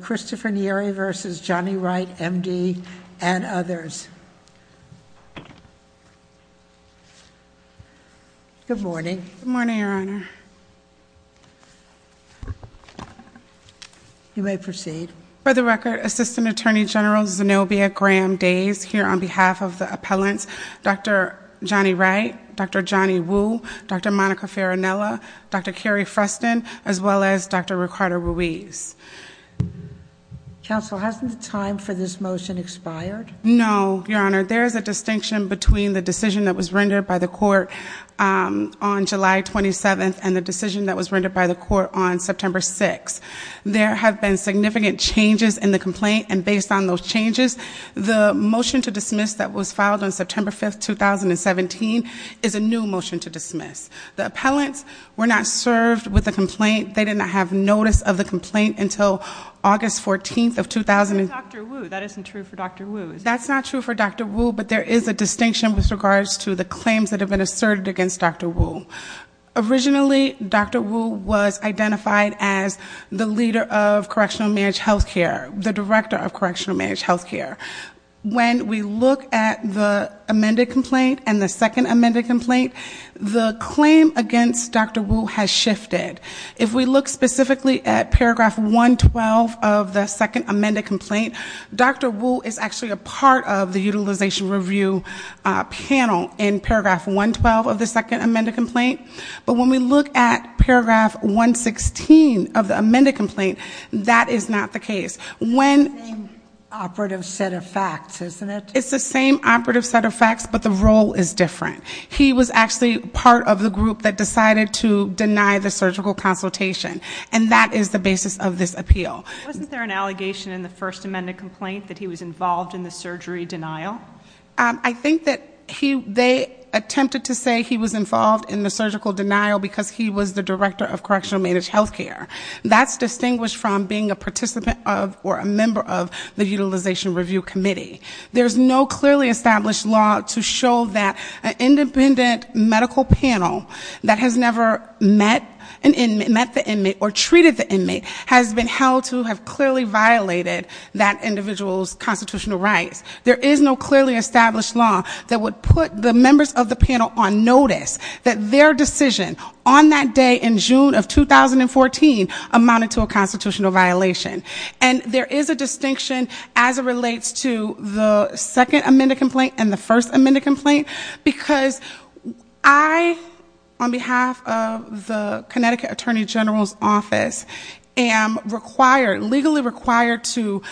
Christopher Neary v. Johnny Wright, M.D. and others. Good morning. Good morning, Your Honor. You may proceed. For the record, Assistant Attorney General Zenobia Graham Days here on behalf of the appellants, Dr. Johnny Wright, Dr. Johnny Wu, Dr. Monica Counsel, hasn't the time for this motion expired? No, Your Honor. There is a distinction between the decision that was rendered by the court on July 27th and the decision that was rendered by the court on September 6th. There have been significant changes in the complaint and based on those changes, the motion to dismiss that was filed on September 5th, 2017 is a new motion to dismiss. The appellants were not served with a complaint. They did not have notice of the complaint until August 14th of 2018. That isn't true for Dr. Wu. That's not true for Dr. Wu, but there is a distinction with regards to the claims that have been asserted against Dr. Wu. Originally, Dr. Wu was identified as the leader of Correctional Managed Health Care, the director of Correctional Managed Health Care. When we look at the amended complaint and the second amended complaint, the claim against Dr. Wu has shifted. If we look specifically at paragraph 112 of the second amended complaint, Dr. Wu is actually a part of the Utilization Review Panel in paragraph 112 of the second amended complaint, but when we look at paragraph 116 of the amended complaint, that is not the case. It's the same operative set of facts, isn't it? It's the same operative set of facts. He was actually part of the group that decided to deny the surgical consultation, and that is the basis of this appeal. Wasn't there an allegation in the first amended complaint that he was involved in the surgery denial? I think that they attempted to say he was involved in the surgical denial because he was the director of Correctional Managed Health Care. That's distinguished from being a participant of or a member of the Utilization Review Committee. There's no clearly established law to show that an independent medical panel that has never met an inmate, met the inmate, or treated the inmate has been held to have clearly violated that individual's constitutional rights. There is no clearly established law that would put the members of the panel on notice that their decision on that day in June of 2014 amounted to a constitutional violation. And there is a distinction as it relates to the second amended complaint and the first amended complaint because I, on behalf of the Connecticut Attorney General's Office, am required, legally required, to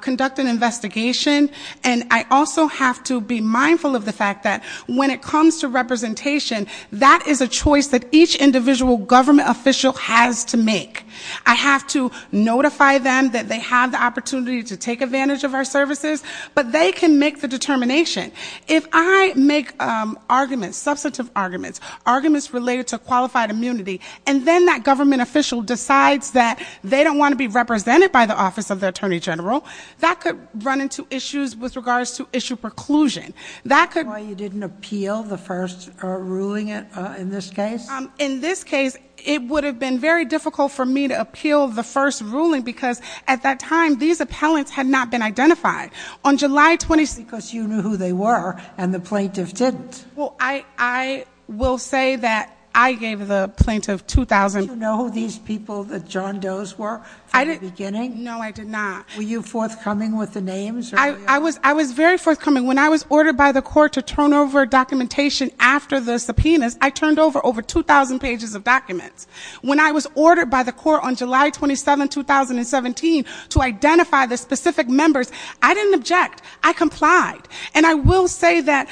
conduct an investigation. And I also have to be mindful of the fact that when it comes to representation, that is a choice that each individual government official has to make. I have to notify them that they have the opportunity to take advantage of our services, but they can make the determination. If I make arguments, substantive arguments, arguments related to qualified immunity, and then that government official decides that they don't want to be represented by the Office of the Attorney General, that could run into issues with regards to issue preclusion. That could... Why you didn't appeal the first ruling in this case? In this case, it would have been very difficult for me to appeal the first ruling because at that time, these appellants had not been identified. On July 26th... Because you knew who they were and the plaintiff didn't. Well, I will say that I gave the plaintiff 2,000... Did you know who these people, the John Does, were from the beginning? No, I did not. Were you forthcoming with the names? I was very forthcoming. When I was ordered by the court to turn over documentation after the subpoenas, I turned over over 2,000 pages of documents. When I was ordered by the court on July 27th, 2017, to identify the specific members, I didn't object. I complied. And I will say that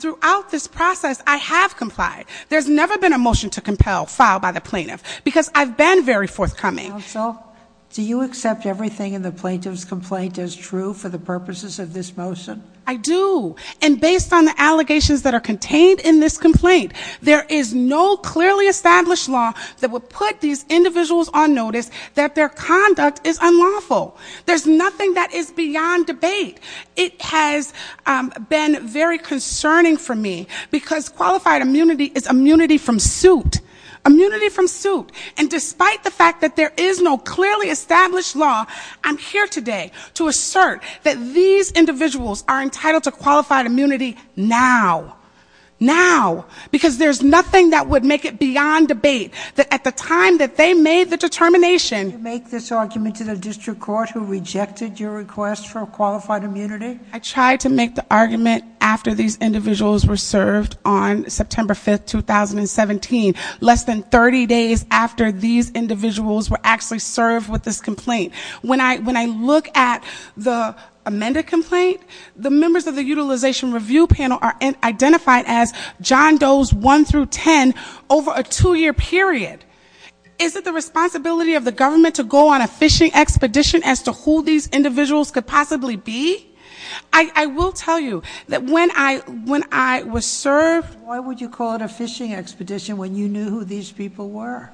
throughout this process, I have complied. There's never been a motion to compel filed by the plaintiff because I've been very forthcoming. Counsel, do you accept everything in the plaintiff's complaint as true for the purposes of this motion? I do. And based on the allegations that are contained in this complaint, there is no clearly established law that would put these individuals on notice that their conduct is unlawful. There's nothing that is beyond debate. It has been very concerning for me because qualified immunity is immunity from suit. Immunity from suit. And despite the fact that there is no clearly established law, I'm here today to assert that these individuals are entitled to qualified immunity now. Now. Because there's nothing that would make it beyond debate. At the time that they made the determination... Did you make this argument to the district court who rejected your request for qualified immunity? I tried to make the argument after these individuals were served on September 5th, 2017, less than 30 days after these individuals were actually served with this complaint. When I look at the amended complaint, the members of the Utilization Review Panel are identified as John Doe's 1 through 10 over a two-year period. Is it the responsibility of the government to go on a fishing expedition as to who these individuals could possibly be? I will tell you that when I was served... Why would you call it a fishing expedition when you knew who these people were?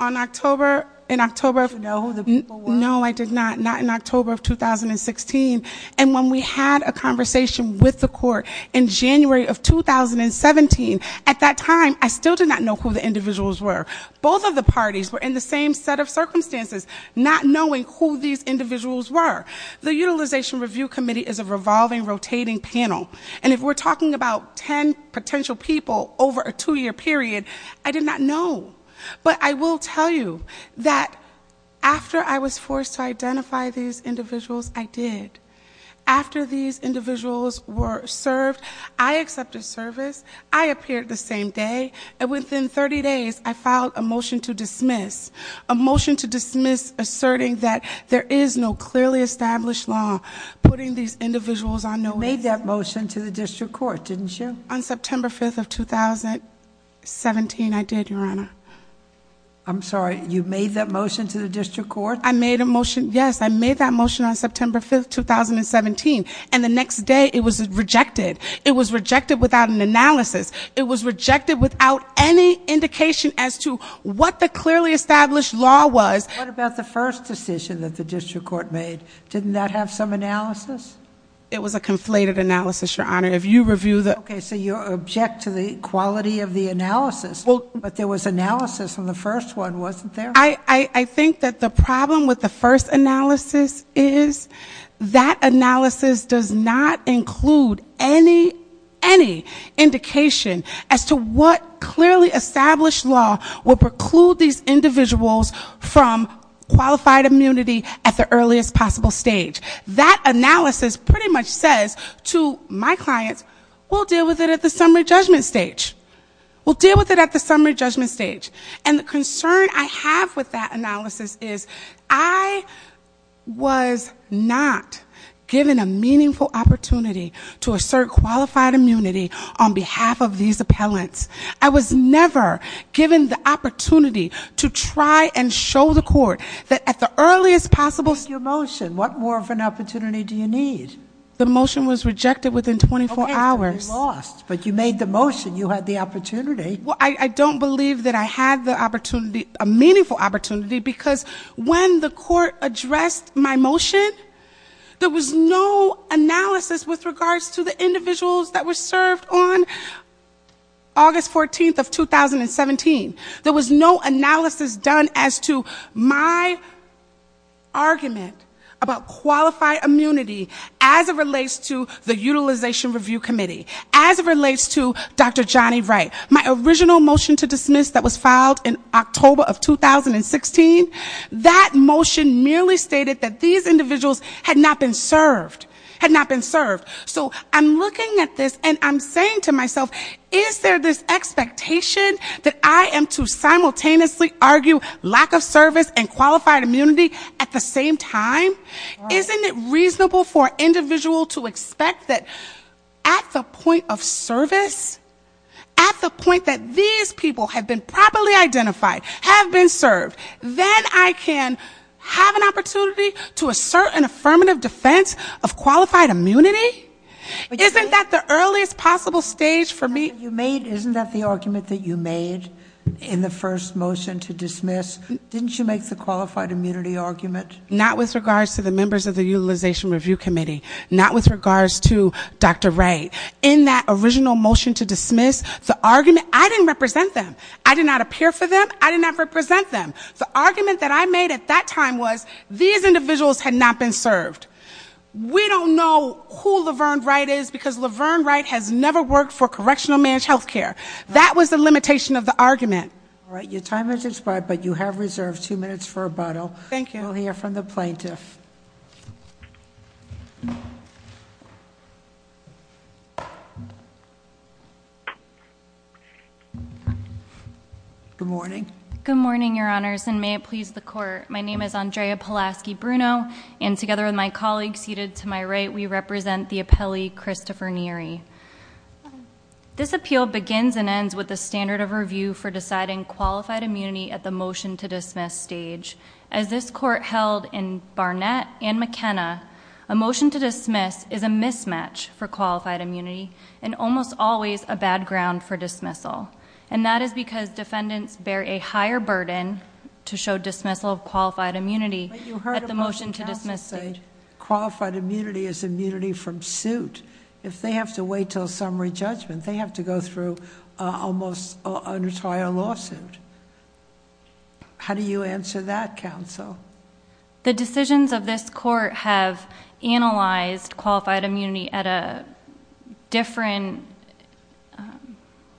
On October... In October... Did you know who the people were? No, I did not. Not in October of 2016. And when we had a conversation with the court in January of 2017, at that time, I still did not know who the individuals were. Both of the parties were in the same set of circumstances, not knowing who these individuals were. The Utilization Review Committee is a revolving, rotating panel. And if we're talking about 10 potential people over a two-year period, I did not know. But I will tell you that after I was forced to identify these individuals, I did. After these individuals were served, I accepted service. I appeared the same day. And within 30 days, I filed a motion to dismiss. A motion to dismiss asserting that there is no clearly established law putting these individuals on no... You made that motion to the district court, didn't you? On September 5th of 2017, I did, Your Honor. I'm sorry, you made that motion to the district court? I made a motion, yes, I made that motion on September 5th, 2017. And the next day, it was rejected. It was rejected without an analysis. It was rejected without any indication as to what the clearly established law was. What about the first decision that the district court made? Didn't that have some analysis? It was a conflated analysis, Your Honor. If you review the... Okay, so you object to the quality of the analysis. But there was analysis in the first one, wasn't there? I think that the problem with the first analysis is that analysis does not include any indication as to what clearly established law would preclude these individuals from qualified immunity at the earliest possible stage. That analysis pretty much says to my clients, we'll deal with it at the summary judgment stage. We'll deal with it at the summary judgment stage. And the concern I have with that analysis is I was not given a meaningful opportunity to assert qualified immunity on behalf of these appellants. I was never given the opportunity to try and show the court that at the earliest possible... Your motion, what more of an opportunity do you need? The motion was rejected within 24 hours. Okay, but you lost. But you made the motion. You had the opportunity. I don't believe that I had the opportunity, a meaningful opportunity, because when the court addressed my motion, there was no analysis with regards to the individuals that were served. There was no analysis done as to my argument about qualified immunity as it relates to the Utilization Review Committee, as it relates to Dr. Johnny Wright. My original motion to dismiss that was filed in October of 2016, that motion merely stated that these individuals had not been served, had not been served. So I'm looking at this and I'm saying to myself, is there this expectation that I am to simultaneously argue lack of service and qualified immunity at the same time? Isn't it reasonable for an individual to expect that at the point of service, at the point that these people have been properly identified, have been served, then I can have an opportunity to assert an affirmative defense of qualified immunity? Isn't that the earliest possible stage for me? You made, isn't that the argument that you made in the first motion to dismiss? Didn't you make the qualified immunity argument? Not with regards to the members of the Utilization Review Committee. Not with regards to Dr. Wright. In that original motion to dismiss, the argument, I didn't represent them. I did not appear for them. I did not represent them. The argument that I made at that time was these individuals had not been served. We don't know who Laverne Wright is because Laverne Wright has never worked for Correctional Managed Health Care. That was the limitation of the argument. All right, your time has expired, but you have reserved two minutes for rebuttal. Thank you. We'll hear from the plaintiff. Good morning. Good morning, your honors, and may it please the court. My name is Andrea Pulaski-Bruno, and together with my colleague seated to my right, we represent the appellee, Christopher Neary. This appeal begins and ends with the standard of review for deciding qualified immunity at the motion to dismiss stage. As this court held in Barnett and McKenna, a motion to dismiss is a mismatch for qualified immunity and almost always a bad ground for a higher burden to show dismissal of qualified immunity at the motion to dismiss stage. But you heard a motion passed saying qualified immunity is immunity from suit. If they have to wait until summary judgment, they have to go through almost an entire lawsuit. How do you answer that, counsel? The decisions of this court have analyzed qualified immunity at a different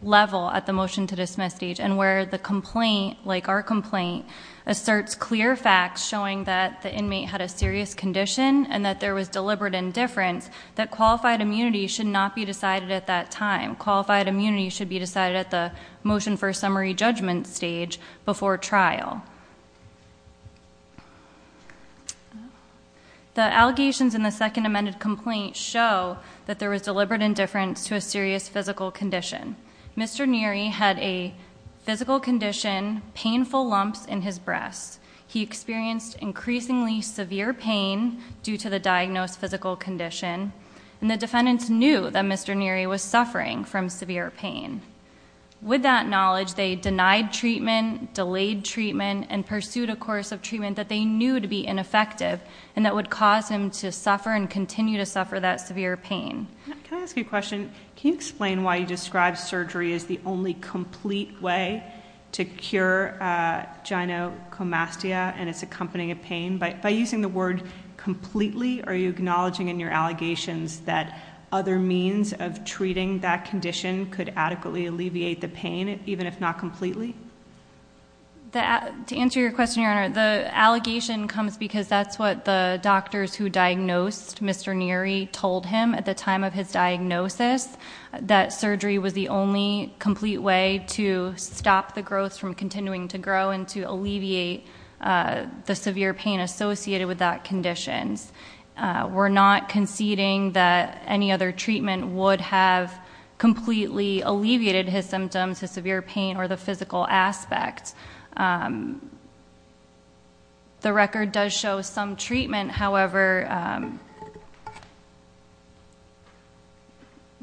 level at the motion to dismiss stage and where the complaint, like our complaint, asserts clear facts showing that the inmate had a serious condition and that there was deliberate indifference, that qualified immunity should not be decided at that time. Qualified immunity should be decided at the motion for summary judgment stage before trial. The allegations in the second amended complaint show that there was deliberate indifference to a serious physical condition. Mr. Neary had a physical condition, painful lumps in his breasts. He experienced increasingly severe pain due to the diagnosed physical condition. And the defendants knew that Mr. Neary was suffering from severe pain. With that knowledge, they denied treatment, delayed treatment, and pursued a course of treatment that they knew to be ineffective and that would cause him to suffer and continue to suffer that severe pain. Can I ask you a question? Can you explain why you describe surgery as the only complete way to cure gynecomastia and its accompanying pain? By using the word completely, are you acknowledging in your allegations that other means of treating that condition could adequately alleviate the pain, even if not completely? To answer your question, Your Honor, the allegation comes because that's what the doctors who said at the time of his diagnosis, that surgery was the only complete way to stop the growth from continuing to grow and to alleviate the severe pain associated with that condition. We're not conceding that any other treatment would have completely alleviated his symptoms, his severe pain, or the physical aspect. The record does show some treatment, however,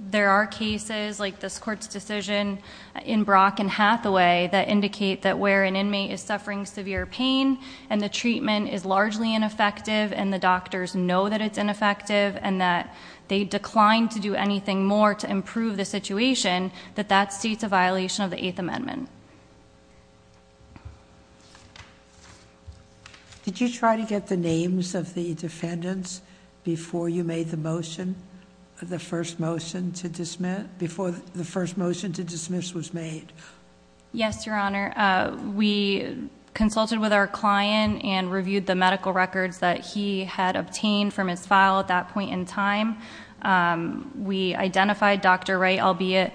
there are cases like this court's decision in Brock and Hathaway that indicate that where an inmate is suffering severe pain and the treatment is largely ineffective and the doctors know that it's ineffective and that they declined to do anything more to improve the situation, that that states a violation of the Eighth Amendment. Did you try to get the names of the defendants before you made the motion? Before the first motion to dismiss was made? Yes, Your Honor. We consulted with our client and reviewed the medical records that he had obtained from his file at that point in time. We identified Dr. Wright, albeit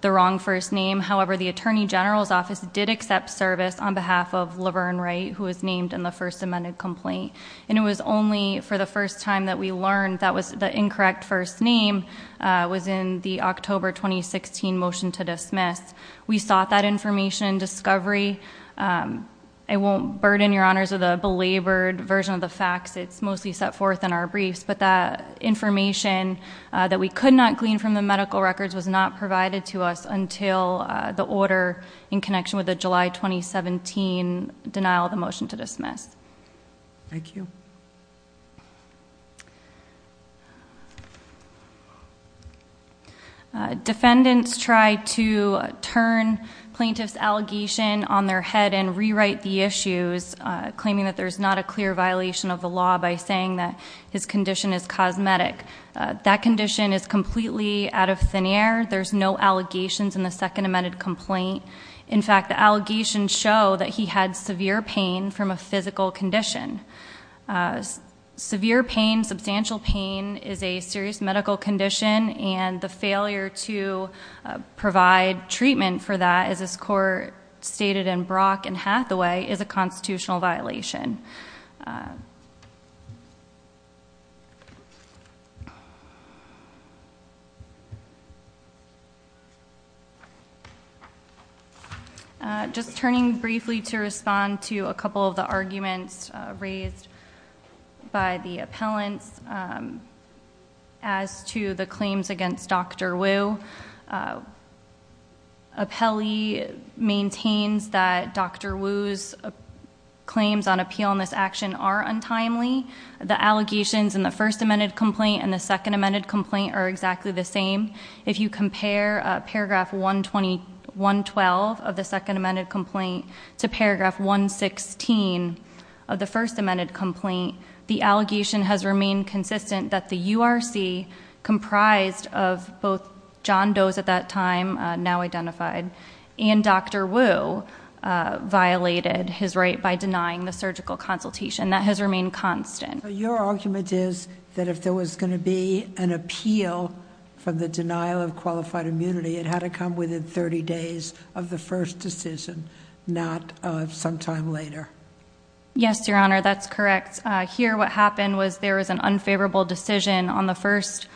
the wrong first name, however, the Attorney General's Office did accept service on behalf of Laverne Wright, who was named in the first amended complaint. And it was only for the first time that we learned that the incorrect first name was in the October 2016 motion to dismiss. We sought that information and discovery. I won't burden Your Honors with a belabored version of the facts, it's mostly set forth in our briefs, but that information that we could not glean from the medical records was not provided to us until the order in connection with the July 2017 denial of the motion to dismiss. Thank you. Defendants try to turn plaintiff's allegation on their head and rewrite the issues, claiming that there's not a clear violation of the law by saying that his condition is cosmetic. That condition is completely out of thin air. There's no allegations in the second amended complaint. In fact, the allegations show that he had severe pain from a physical condition. Severe pain, substantial pain, is a serious medical condition and the failure to provide treatment for that, as this Court stated in Brock and Hathaway, is a constitutional violation. Just turning briefly to respond to a couple of the arguments raised by the appellants as to the claims against Dr. Wu. Appellee maintains that Dr. Wu's claims on appeal in this action are untimely. The allegations in the first amended complaint and the second from paragraph 112 of the second amended complaint to paragraph 116 of the first amended complaint, the allegation has remained consistent that the URC, comprised of both John Doe's at that time, now identified, and Dr. Wu, violated his right by denying the surgical consultation. That has remained constant. Your argument is that if there was going to be an appeal for the denial of qualified immunity, it had to come within 30 days of the first decision, not sometime later. Yes, Your Honor, that's correct. Here, what happened was there was an unfavorable decision on the first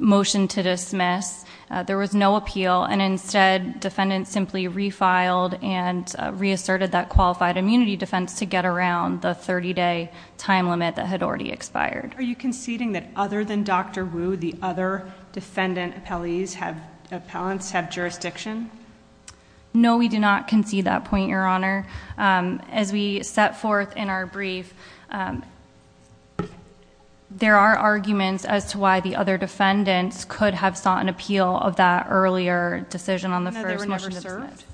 motion to dismiss. There was no appeal, and instead, defendants simply refiled and reasserted that qualified immunity defense to get around the 30-day time limit that had already expired. Are you conceding that other than Dr. Wu, the other defendant appellants have jurisdiction? No, we do not concede that point, Your Honor. As we set forth in our brief, there are arguments as to why the other defendants could have sought an appeal of that earlier decision No, they were never served?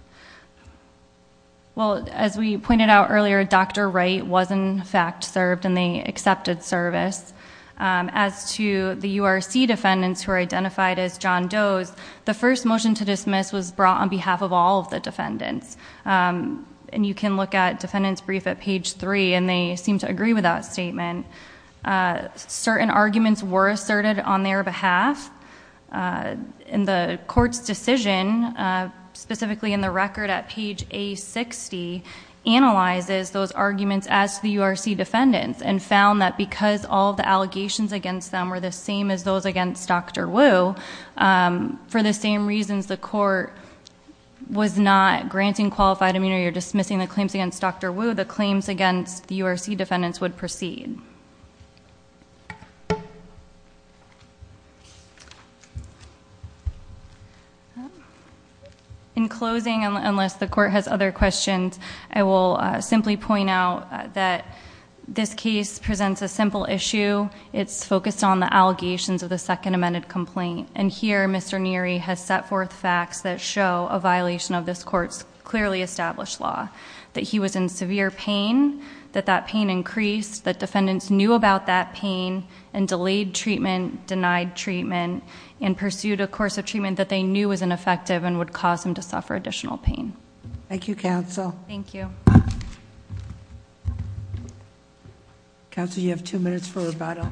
Well, as we pointed out earlier, Dr. Wright was in fact served, and they accepted service. As to the URC defendants who are identified as John Doe's, the first motion to dismiss was brought on behalf of all of the defendants. You can look at defendants' brief at page three, and they seem to agree with that statement. Certain arguments were asserted on their behalf. The court's decision, specifically in the record at page A60, analyzes those arguments as to the URC defendants, and found that because all of the allegations against them were the same as those against Dr. Wu, for the same reasons the court was not granting qualified immunity or dismissing the claims against Dr. Wu, the claims against the URC defendants would proceed. In closing, unless the court has other questions, I will simply point out that this case presents a simple issue. It's focused on the allegations of the second amended complaint. And here Mr. Neary has set forth facts that show a violation of this court's clearly established law, that he was in severe pain, that that pain increased, that defendants knew about that pain, and delayed treatment, denied treatment, and pursued a course of treatment that they knew was ineffective and would cause him to suffer additional pain. Thank you, counsel. Thank you. Counsel, you have two minutes for rebuttal.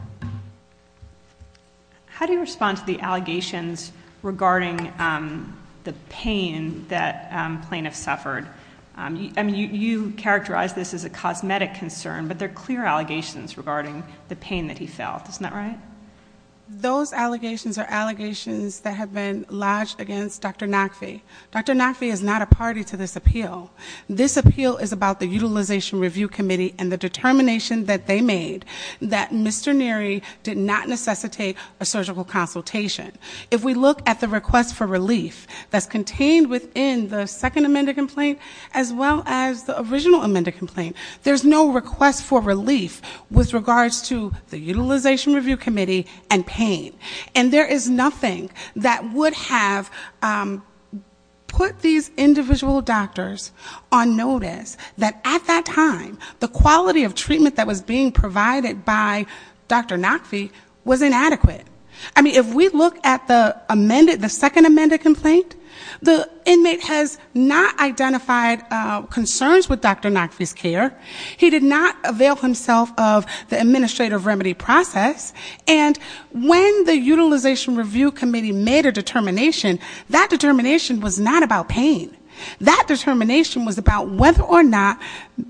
How do you respond to the allegations regarding the pain that plaintiffs suffered? I mean, you characterize this as a cosmetic concern, but they're clear allegations regarding the pain that he felt. Isn't that right? Those allegations are allegations that have been lodged against Dr. Nakfi. Dr. Nakfi is not a party to this appeal. This appeal is about the Utilization Review Committee and the determination that they made that Mr. Neary did not necessitate a surgical consultation. If we look at the request for relief that's contained within the second amended complaint as well as the original amended complaint, there's no request for relief with regards to the Utilization Review Committee and pain. And there is nothing that would have put these individual doctors on notice that at that time, the quality of treatment that was being provided by Dr. Nakfi was inadequate. I mean, if we look at the amended, the second amended complaint, the inmate has not identified concerns with Dr. Nakfi's care. He did not avail himself of the administrative remedy process. And when the Utilization Review Committee made a determination, that determination was not about pain. That determination was about whether or not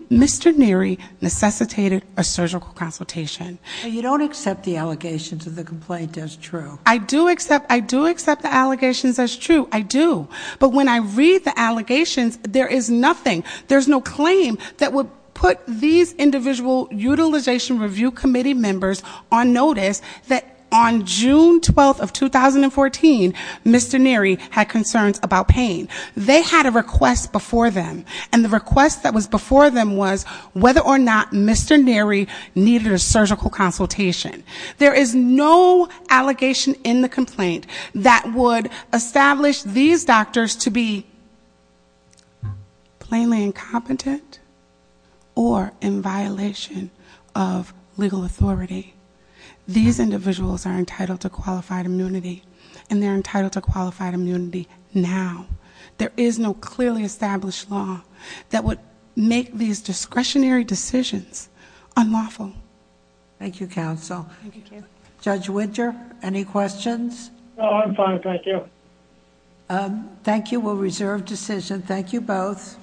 Mr. Neary necessitated a surgical consultation. You don't accept the allegations of the complaint as true. I do accept the allegations as true. I do. But when I read the allegations, there is nothing, there's no claim that would put these individual Utilization Review Committee members on notice that on June 12th of 2014, Mr. Neary had concerns about pain. They had a request before them. And the request that was before them was whether or not Mr. Neary needed a surgical consultation. There is no allegation in the complaint that would establish these doctors to be plainly incompetent or in violation of legal authority. These individuals are entitled to qualified immunity, and they're entitled to qualified immunity now. There is no clearly established law that would make these discretionary decisions unlawful. Thank you, counsel. Judge Winter, any questions? No, I'm fine. Thank you. Thank you. We'll reserve decision. Thank you both.